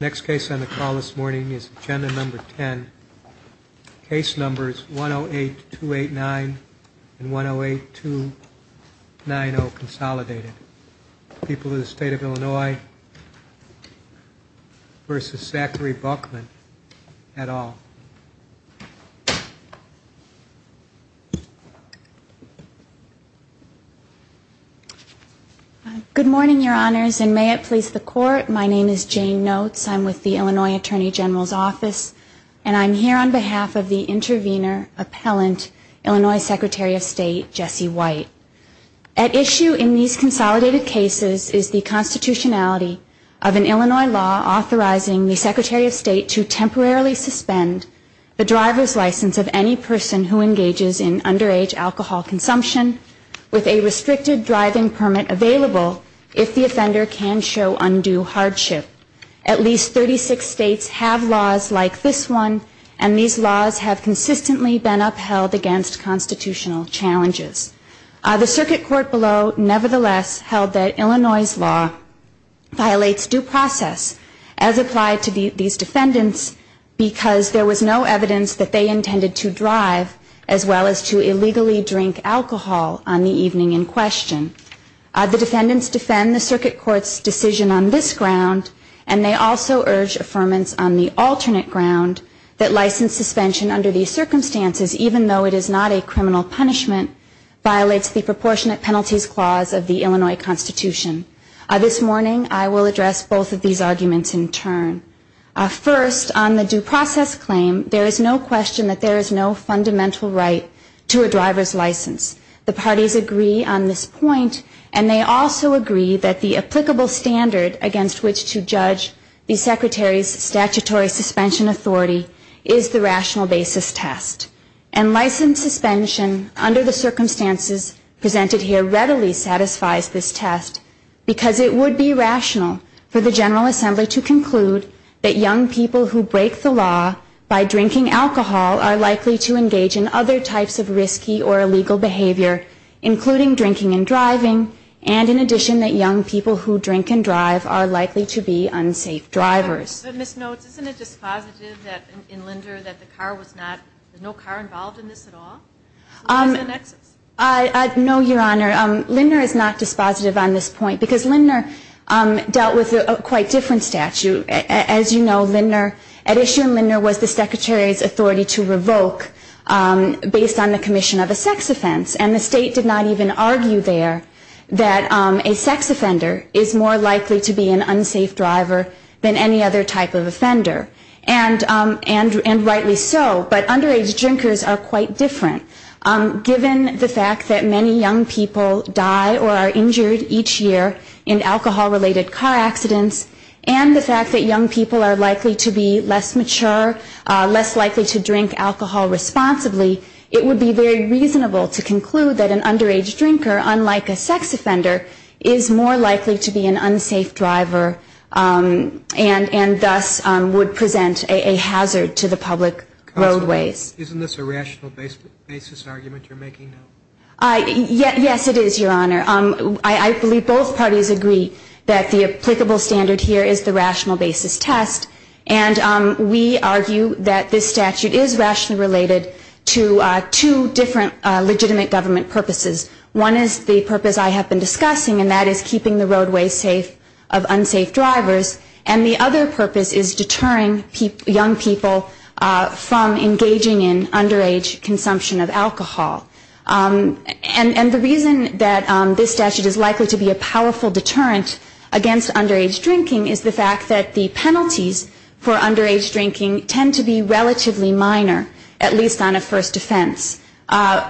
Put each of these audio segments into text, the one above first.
Next case on the call this morning is agenda number 10. Case numbers 108289 and 108290, consolidated. People of the state of Illinois versus Zachary Boeckmann et al. Notes I'm with the Illinois Attorney General's office and I'm here on behalf of the intervener, appellant, Illinois Secretary of State Jesse White. At issue in these consolidated cases is the constitutionality of an Illinois law authorizing the Secretary of State to temporarily suspend the driver's license of any person who engages in underage alcohol consumption with a restricted driving permit available if the offender can show undue hardship. At least 36 states have laws like this one and these laws have consistently been upheld against constitutional challenges. The circuit court below nevertheless held that Illinois' law violates due process as applied to these defendants because there was no evidence that they intended to drive as well as to illegally drink alcohol on the evening in question. The defendants defend the circuit court's decision on this ground and they also urge affirmance on the alternate ground that license suspension under these circumstances, even though it is not a criminal punishment, violates the proportionate penalties clause of the Illinois Constitution. This morning I will address both of these arguments in turn. First, on the due process claim, there is no question that there is no fundamental right to a driver's license. The parties agree on this point and they also agree that the applicable standard against which to judge the Secretary's statutory suspension authority is the rational basis test. And license suspension under the circumstances presented here readily satisfies this test because it would be rational for the General Assembly to conclude that young people who break the law by drinking alcohol are likely to engage in other types of risky or illegal behavior, including drinking and driving, and in addition that young people who drink and drive are likely to be unsafe drivers. Ms. Notes, isn't it dispositive in Linder that there is no car involved in this at all? No, Your Honor. Linder is not dispositive on this point because Linder dealt with a quite different statute. As you know, at issue in Linder was the Secretary's authority to revoke based on the commission of a sex offense and the state did not even argue there that a sex offender is more likely to be an unsafe driver than any other sex offender. And rightly so. But underage drinkers are quite different. Given the fact that many young people die or are injured each year in alcohol-related car accidents and the fact that young people are likely to be less mature, less likely to drink alcohol responsibly, it would be very reasonable to conclude that an underage drinker, unlike a sex offender, is more likely to be an unsafe driver and that is not true. And thus would present a hazard to the public roadways. Counsel, isn't this a rational basis argument you're making now? Yes, it is, Your Honor. I believe both parties agree that the applicable standard here is the rational basis test and we argue that this statute is rationally related to two different legitimate government purposes. One is the purpose I have been discussing and that is keeping the roadways safe of unsafe drivers and the other purpose is deterring young people from engaging in underage consumption of alcohol. And the reason that this statute is likely to be a powerful deterrent against underage drinking is the fact that the penalties for underage drinking tend to be relatively minor, at least on a first offense.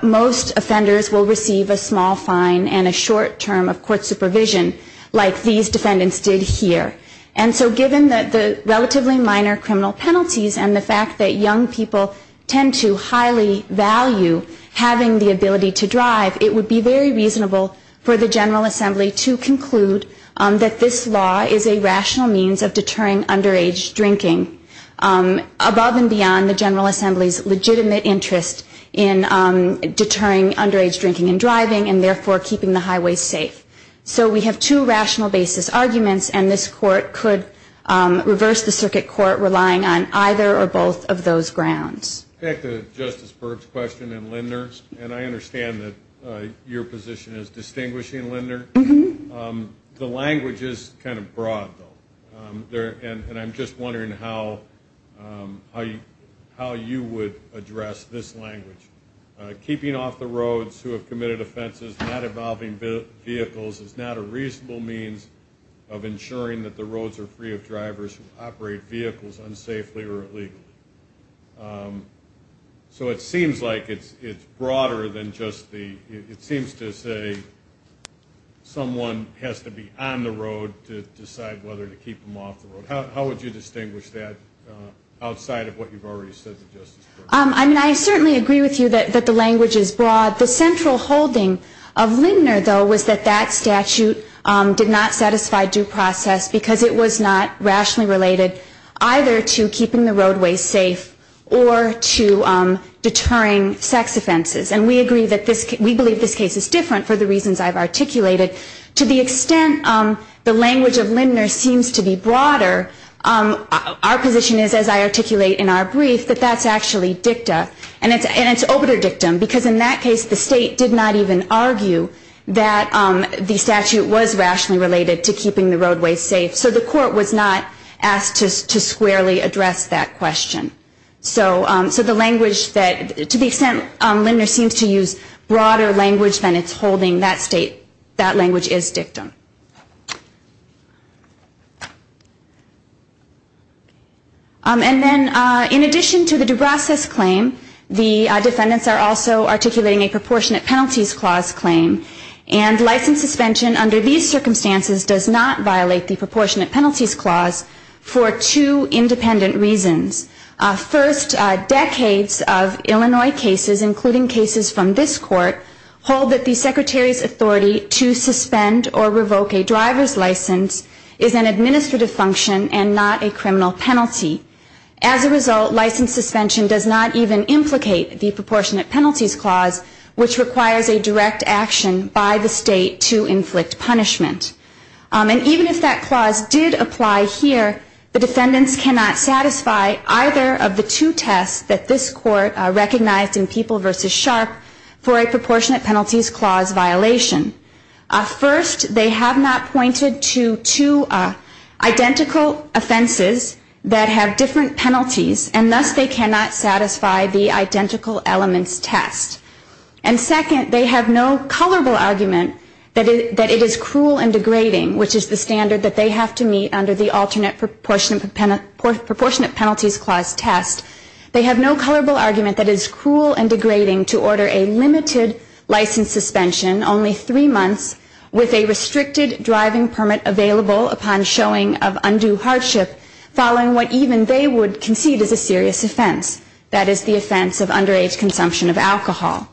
Most offenders will receive a small fine and a short term of court supervision like these defendants did here. And so given that the relatively minor criminal penalties and the fact that young people tend to highly value having the ability to drive, it would be very reasonable for the General Assembly to conclude that this law is a rational means of deterring underage drinking. Above and beyond the General Assembly's legitimate interest in deterring underage drinking and driving and therefore keeping the highways safe. So we have two rational basis arguments and this court could reverse the circuit court relying on either or both of those grounds. Back to Justice Berg's question and Linder's, and I understand that your position is distinguishing Linder. The language is kind of broad though and I'm just wondering how you would address this language. Keeping off the roads who have committed offenses not involving vehicles is not a reasonable means of ensuring that the roads are free of drivers who operate vehicles unsafely or illegally. So it seems like it's broader than just the, it seems to say someone has to be on the road to decide whether to keep them off the road. How would you distinguish that outside of what you've already said to Justice Berg? I mean I certainly agree with you that the language is broad. The central holding of Linder though was that that statute did not satisfy due process because it was not rationally related either to keeping the roadways safe or to deterring sex offenses. And we agree that this, we believe this case is different for the reasons I've articulated. To the extent the language of Linder seems to be broader, our position is as I articulate in our brief that that's actually dicta and it's obiter dictum. Because in that case the state did not even argue that the statute was rationally related to keeping the roadways safe. So the court was not asked to squarely address that question. So the language that, to the extent Linder seems to use broader language than it's holding, that language is dictum. And then in addition to the due process claim, the defendants are also articulating a proportionate penalties clause claim. And license suspension under these circumstances does not violate the proportionate penalties clause for two independent reasons. First, decades of Illinois cases, including cases from this court, hold that the Secretary's authority to suspend or revoke a license suspension is not sufficient. Second, a license suspension to revoke a driver's license is an administrative function and not a criminal penalty. As a result, license suspension does not even implicate the proportionate penalties clause, which requires a direct action by the state to inflict punishment. And even if that clause did apply here, the defendants cannot satisfy either of the two tests that this court recognized in People v. Sharp for a proportionate penalties clause violation. First, they have not pointed to two identical offenses that have different penalties, and thus they cannot satisfy the identical elements test. And second, they have no colorable argument that it is cruel and degrading, which is the standard that they have to meet under the alternate proportionate penalties clause test. They have no colorable argument that it is cruel and degrading to order a limited license suspension, only three months, with a restricted driving permit available upon showing of undue hardship, following what even they would concede is a serious offense. That is the offense of underage consumption of alcohol.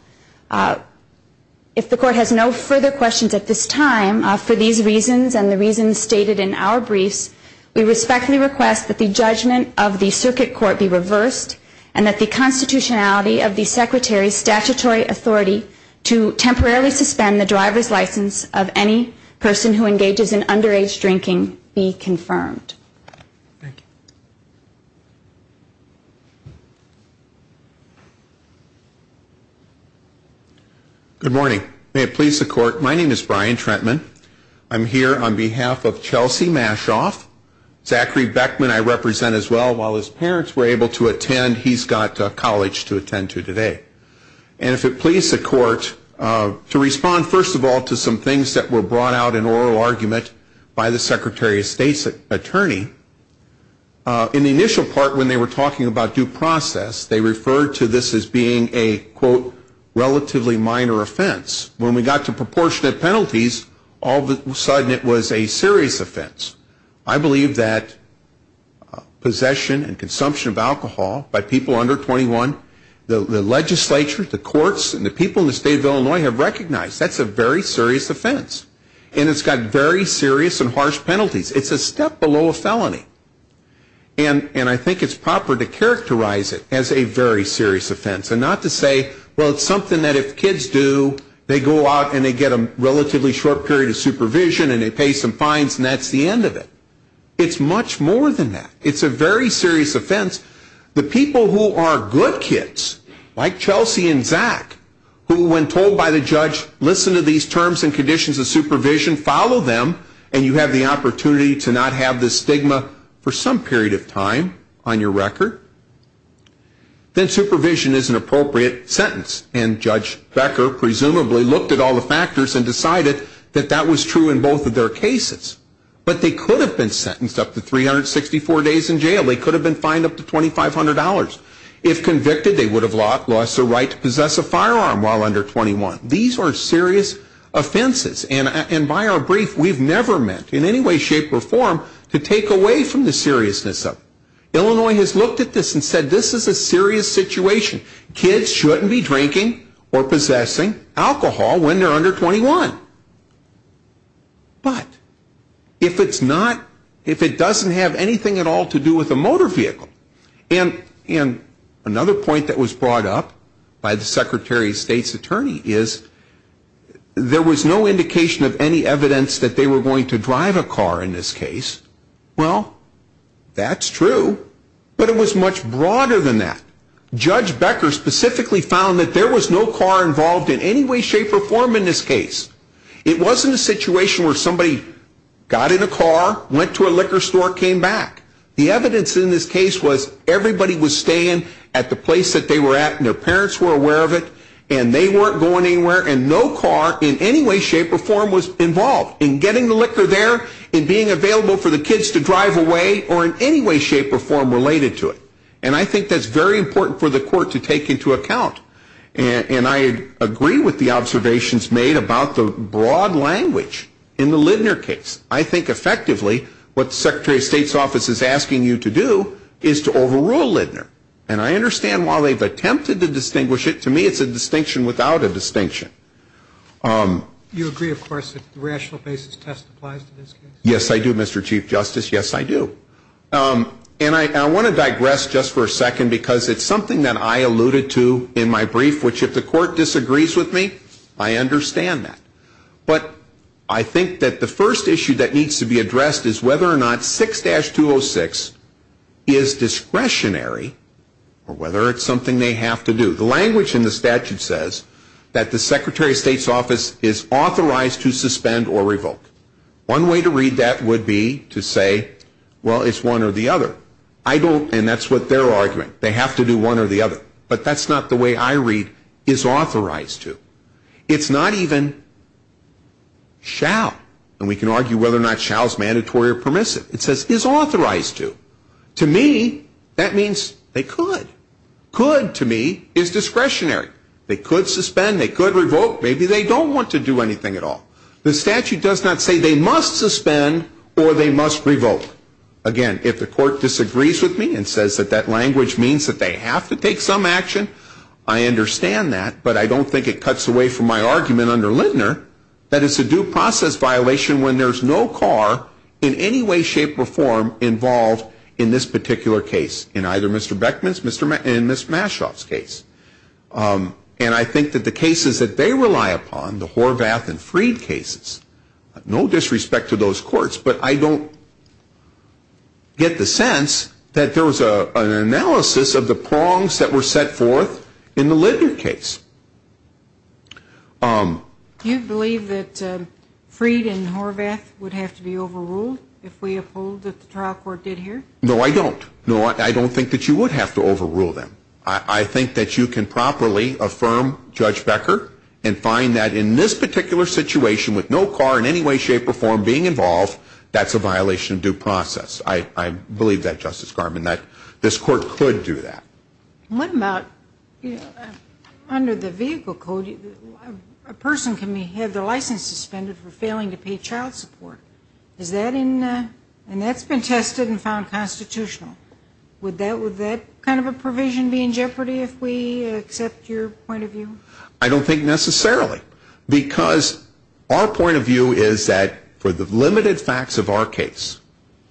If the court has no further questions at this time, for these reasons and the reasons stated in our briefs, we respectfully request that the judgment of the circuit court be reversed, and that the court be adjourned. And that the constitutionality of the secretary's statutory authority to temporarily suspend the driver's license of any person who engages in underage drinking be confirmed. Good morning. May it please the court, my name is Brian Trentman. I'm here on behalf of Chelsea Mashoff. Zachary Beckman I represent as well. While his parents were able to attend, he's got college to attend to today. And if it please the court, to respond first of all to some things that were brought out in oral argument by the secretary of state's attorney, in the initial part when they were talking about due process, they referred to this as being a, quote, relatively minor offense. When we got to proportionate penalties, all of a sudden it was a serious offense. I believe that possession and consumption of alcohol by people under 21, the legislature, the courts, and the people in the state of Illinois have recognized that's a very serious offense. And it's got very serious and harsh penalties. And I think it's proper to characterize it as a very serious offense and not to say, well, it's something that if kids do, they go out and they get a relatively short period of supervision and they pay some fines and that's the end of it. It's much more than that. It's a very serious offense. The people who are good kids, like Chelsea and Zach, who when told by the judge, listen to these terms and conditions of supervision, follow them, and you have the opportunity to not have this stigma for some period of time on your record, then supervision is an appropriate sentence. And Judge Becker presumably looked at all the factors and decided that that was true in both of their cases. But they could have been sentenced up to 364 days in jail, they could have been fined up to $2,500. If convicted, they would have lost the right to possess a firearm while under 21. These are serious offenses and by our brief, we've never meant in any way, shape, or form to take away from the seriousness of it. Illinois has looked at this and said this is a serious situation. Kids shouldn't be drinking or possessing alcohol when they're under 21. But if it's not, if it doesn't have anything at all to do with a motor vehicle. And another point that was brought up by the Secretary of State's attorney is there was no indication of any evidence that they were going to drive a car in this case. Well, that's true. But it was much broader than that. Judge Becker specifically found that there was no car involved in any way, shape, or form in this case. It wasn't a situation where somebody got in a car, went to a liquor store, came back. The evidence in this case was everybody was staying at the place that they were at and their parents were aware of it. And they weren't going anywhere and no car in any way, shape, or form was involved in getting the liquor there and being available for the kids to drive away or in any way, shape, or form related to it. And I think that's very important for the court to take into account. And I agree with the observations made about the broad language in the Lidner case. I think effectively what the Secretary of State's office is asking you to do is to overrule Lidner. And I understand while they've attempted to distinguish it, to me it's a distinction without a distinction. You agree, of course, that the rational basis test applies to this case? Yes, I do, Mr. Chief Justice. Yes, I do. And I want to digress just for a second because it's something that I alluded to in my brief, which if the court disagrees with me, I understand that. But I think that the first issue that needs to be addressed is whether or not 6-206 is discretionary or whether it's something they have to do. The language in the statute says that the Secretary of State's office is authorized to suspend or revoke. One way to read that would be to say, well, it's one or the other. I don't, and that's what they're arguing, they have to do one or the other. But that's not the way I read is authorized to. It's not even shall. And we can argue whether or not shall is mandatory or permissive. It says is authorized to. To me, that means they could. Could to me is discretionary. They could suspend. They could revoke. Maybe they don't want to do anything at all. The statute does not say they must suspend or they must revoke. Again, if the court disagrees with me and says that that language means that they have to take some action, I understand that. But I don't think it cuts away from my argument under Lindner that it's a due process violation when there's no car in any way, shape, or form involved in this particular case. In either Mr. Beckman's and Ms. Mashoff's case. And I think that the cases that they rely upon, the Horvath and Freed cases, no disrespect to those courts, but I don't get the sense that there was an analysis of the prongs that were set forth in the Lindner case. Do you believe that Freed and Horvath would have to be overruled if we uphold what the trial court did here? No, I don't. I don't think that you would have to overrule them. I think that you can properly affirm Judge Becker and find that in this particular situation with no car in any way, shape, or form being involved, that's a violation of due process. I believe that, Justice Garman, that this court could do that. What about under the vehicle code, a person can have their license suspended for failing to pay child support. And that's been tested and found constitutional. Would that kind of a provision be in jeopardy if we accept your point of view? I don't think necessarily. Because our point of view is that for the limited facts of our case,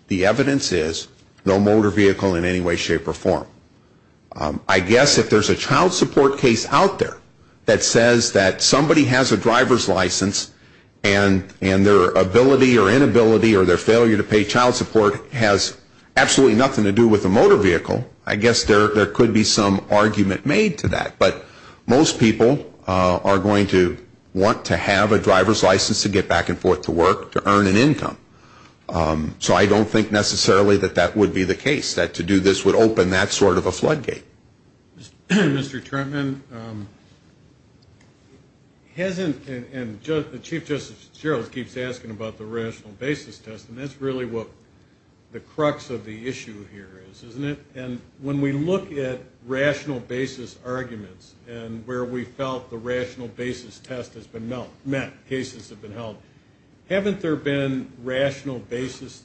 the evidence is no motor vehicle in any way, shape, or form. I guess if there's a child support case out there that says that somebody has a driver's license and their ability or inability or their failure to pay child support has absolutely nothing to do with a motor vehicle, I guess there could be some argument made to that. But most people are going to want to have a driver's license to get back and forth to work to earn an income. So I don't think necessarily that that would be the case, that to do this would open that sort of a floodgate. Mr. Trentman, hasn't, and Chief Justice Gerald keeps asking about the rational basis test, and that's really what the crux of the issue here is, isn't it? And when we look at rational basis arguments and where we felt the rational basis test has been met, cases have been held, haven't there been rational basis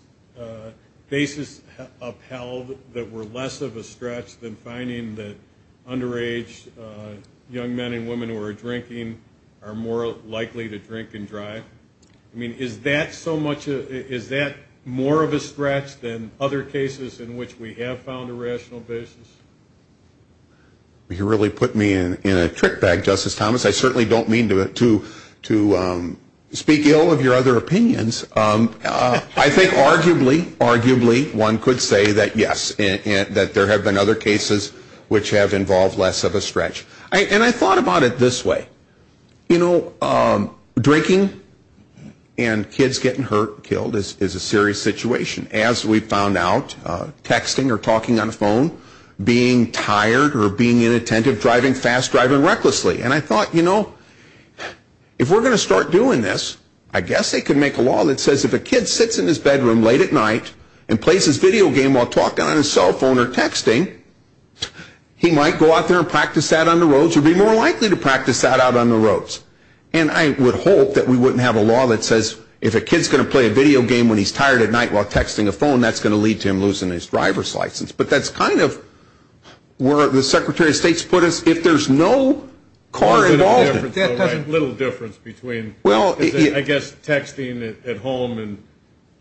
upheld that were less of a stretch than finding that underage young men and women who are drinking are more likely to drink and drive? I mean, is that so much, is that more of a stretch than other cases in which we have found a rational basis? You really put me in a trick bag, Justice Thomas. I certainly don't mean to speak ill of your other opinions. I think arguably, arguably one could say that yes, that there have been other cases which have involved less of a stretch. And I thought about it this way, you know, drinking and kids getting hurt, killed is a serious situation. As we found out, texting or talking on the phone, being tired or being inattentive, driving fast, driving recklessly. And I thought, you know, if we're going to start doing this, I guess they could make a law that says if a kid sits in his bedroom late at night and plays his video game while talking on his cell phone or texting, he might go out there and practice that on the roads or be more likely to practice that out on the roads. And I would hope that we wouldn't have a law that says if a kid's going to play a video game when he's tired at night while texting a phone, that's going to lead to him losing his driver's license. But that's kind of where the Secretary of State's put us, if there's no car involved. There's a little difference between, I guess, texting at home and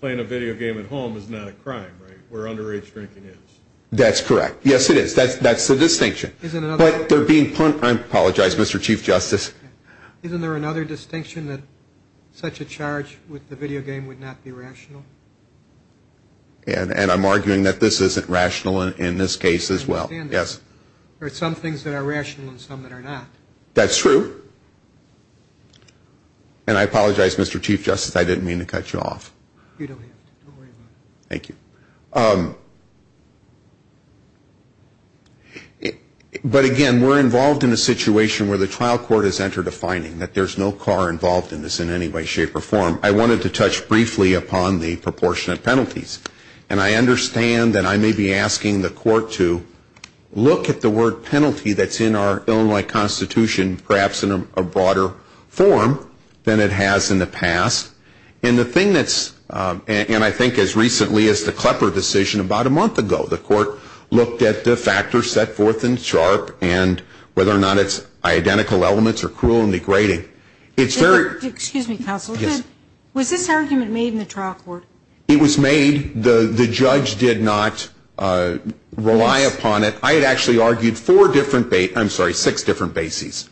playing a video game at home is not a crime, right? Where underage drinking is. That's correct. Yes, it is. That's the distinction. I apologize, Mr. Chief Justice. Isn't there another distinction that such a charge with the video game would not be rational? And I'm arguing that this isn't rational in this case as well. Yes. There are some things that are rational and some that are not. That's true. And I apologize, Mr. Chief Justice, I didn't mean to cut you off. You don't have to. Don't worry about it. Thank you. But again, we're involved in a situation where the trial court has entered a finding that there's no car involved in this in any way, shape, or form. I wanted to touch briefly upon the proportionate penalties. And I understand that I may be asking the court to look at the word penalty that's in our Illinois Constitution, perhaps in a broader form than it has in the past. And the thing that's, and I think as recently as the Klepper decision about a month ago, the court looked at the factors set forth in SHARP and whether or not it's identical elements or cruel and degrading. Excuse me, counsel. Yes. Was this argument made in the trial court? It was made. The judge did not rely upon it. I had actually argued four different, I'm sorry, six different bases,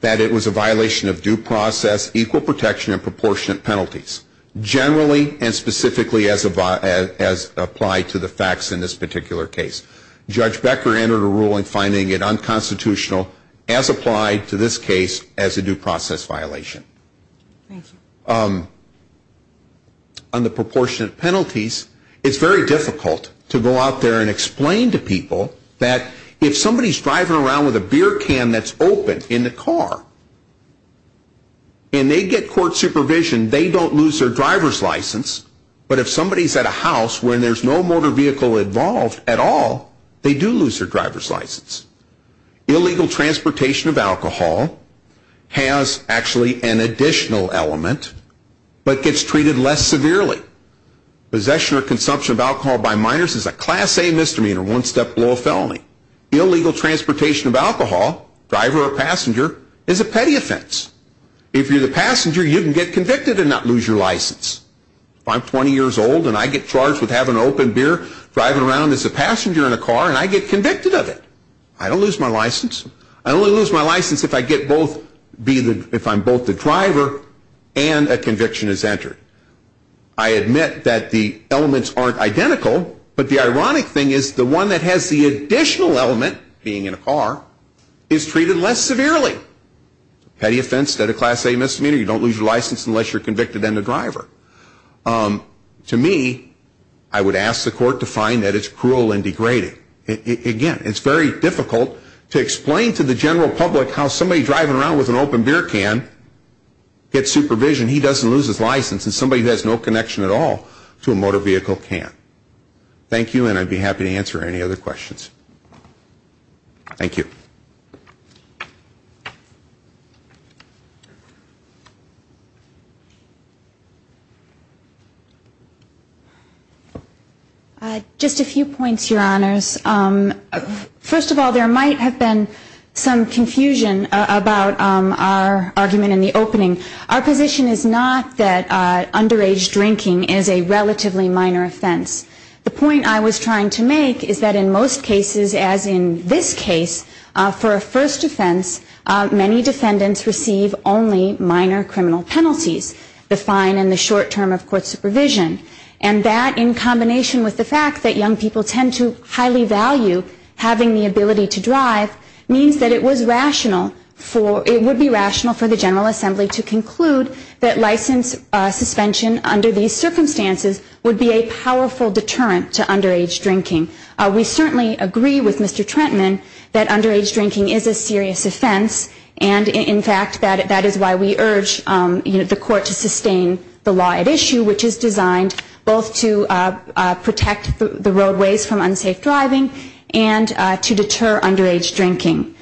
that it was a violation of due process, equal protection, and proportionate penalties, generally and specifically as applied to the facts in this particular case. Judge Becker entered a ruling finding it unconstitutional as applied to this case as a due process violation. Thank you. On the proportionate penalties, it's very difficult to go out there and explain to people that if somebody's driving around with a beer can that's open in the car and they get court supervision, they don't lose their driver's license. But if somebody's at a house where there's no motor vehicle involved at all, they do lose their driver's license. Illegal transportation of alcohol has actually an additional element but gets treated less severely. Possession or consumption of alcohol by minors is a Class A misdemeanor, one step below a felony. Illegal transportation of alcohol, driver or passenger, is a petty offense. If you're the passenger you can get convicted and not lose your license. If I'm 20 years old and I get charged with having an open beer driving around as a passenger in a car and I get convicted of it, I don't lose my license. I only lose my license if I get both, if I'm both the driver and a conviction is entered. I admit that the elements aren't identical, but the ironic thing is the one that has the additional element, being in a car, is treated less severely. Petty offense instead of Class A misdemeanor, you don't lose your license unless you're convicted and a driver. To me, I would ask the court to find that it's cruel and degrading. Again, it's very difficult to explain to the general public how somebody driving around with an open beer can gets supervision, he doesn't lose his license, and somebody who has no connection at all to a motor vehicle can't. Thank you and I'd be happy to answer any other questions. Thank you. Just a few points, Your Honors. First of all, there might have been some confusion about our argument in the opening. Our position is not that underage drinking is a relatively minor offense. The point I was trying to make is that in most cases, as in this case, for a first offense, many defendants receive only minor criminal penalties, the fine and the short term of court supervision. And that, in combination with the fact that young people tend to highly value having the ability to drive, means that it was rational for, it would be rational for the General Assembly to conclude that license suspension under these circumstances would be a powerful deterrent to underage drinking. We certainly agree with Mr. Trentman that underage drinking is a serious offense and, in fact, that is why we urge the court to sustain the law at issue, which is designed both to protect the roadways from unsafe driving and to deter underage drinking.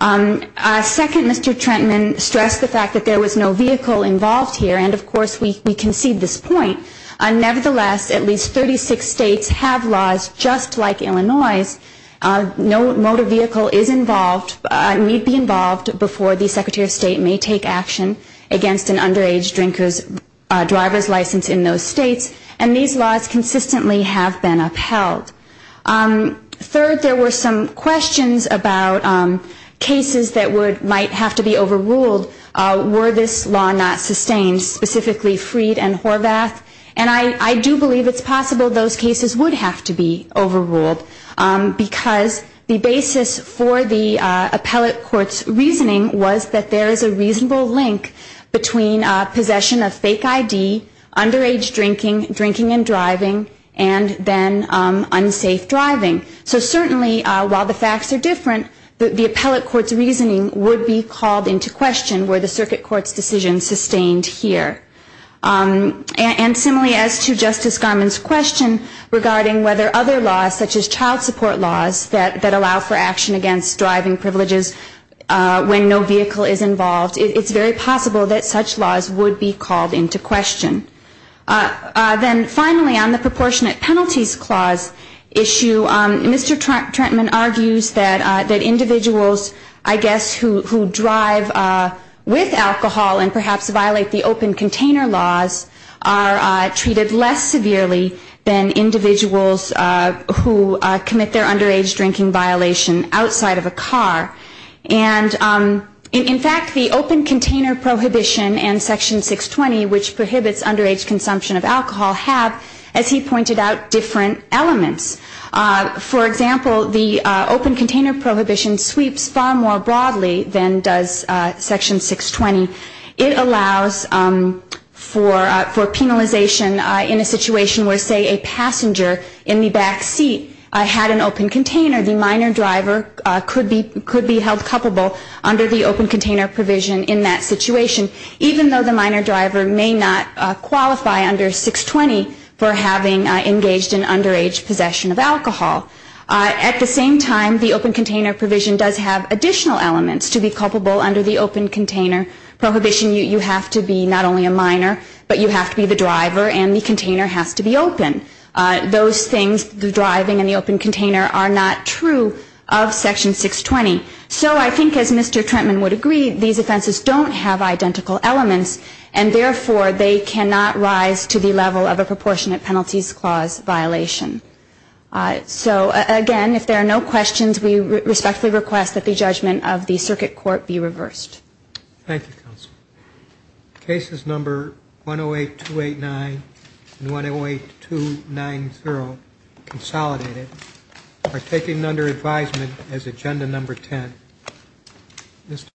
Second, Mr. Trentman stressed the fact that there was no vehicle involved here, and, of course, we concede this point. Nevertheless, at least 36 states have laws just like Illinois's. No motor vehicle is involved, need be involved before the Secretary of State may take action against an underage drinker's driver's license in those states, and these laws consistently have been upheld. Third, there were some questions about cases that might have to be overruled were this law not sustained, specifically Freed and Horvath, and I do believe it's possible those cases would have to be overruled, because the basis for the appellate court's reasoning was that there is a reasonable link between possession of fake ID, underage drinking, drinking and driving, and then unsafe driving. So certainly while the facts are different, the appellate court's reasoning would be called into question were the circuit court's decision sustained here. And similarly as to Justice Garmon's question regarding whether other laws such as child support laws that allow for action against driving privileges when no vehicle is involved, it's very possible that such laws would be called into question. Then finally, on the proportionate penalties clause issue, Mr. Trentman argues that individuals, I guess, who drive with alcohol and perhaps violate the open container laws are treated less severely than individuals who commit their underage drinking violation outside of a car. And in fact, the open container prohibition and Section 620, which prohibits underage consumption of alcohol, have, as he pointed out, different elements. For example, the open container prohibition sweeps far more broadly than does Section 620. It allows for penalization in a situation where, say, a passenger in the back seat had an open container. The minor driver could be held culpable under the open container provision in that situation, even though the minor driver may not qualify under 620 for having engaged in underage possession of alcohol. At the same time, the open container provision does have additional elements to be culpable under the open container prohibition. You have to be not only a minor, but you have to be the driver, and the container has to be open. Those things, the driving and the open container, are not true of Section 620. So I think, as Mr. Trentman would agree, these offenses don't have identical elements, and therefore they cannot rise to the level of a So, again, if there are no questions, we respectfully request that the judgment of the Circuit Court be reversed.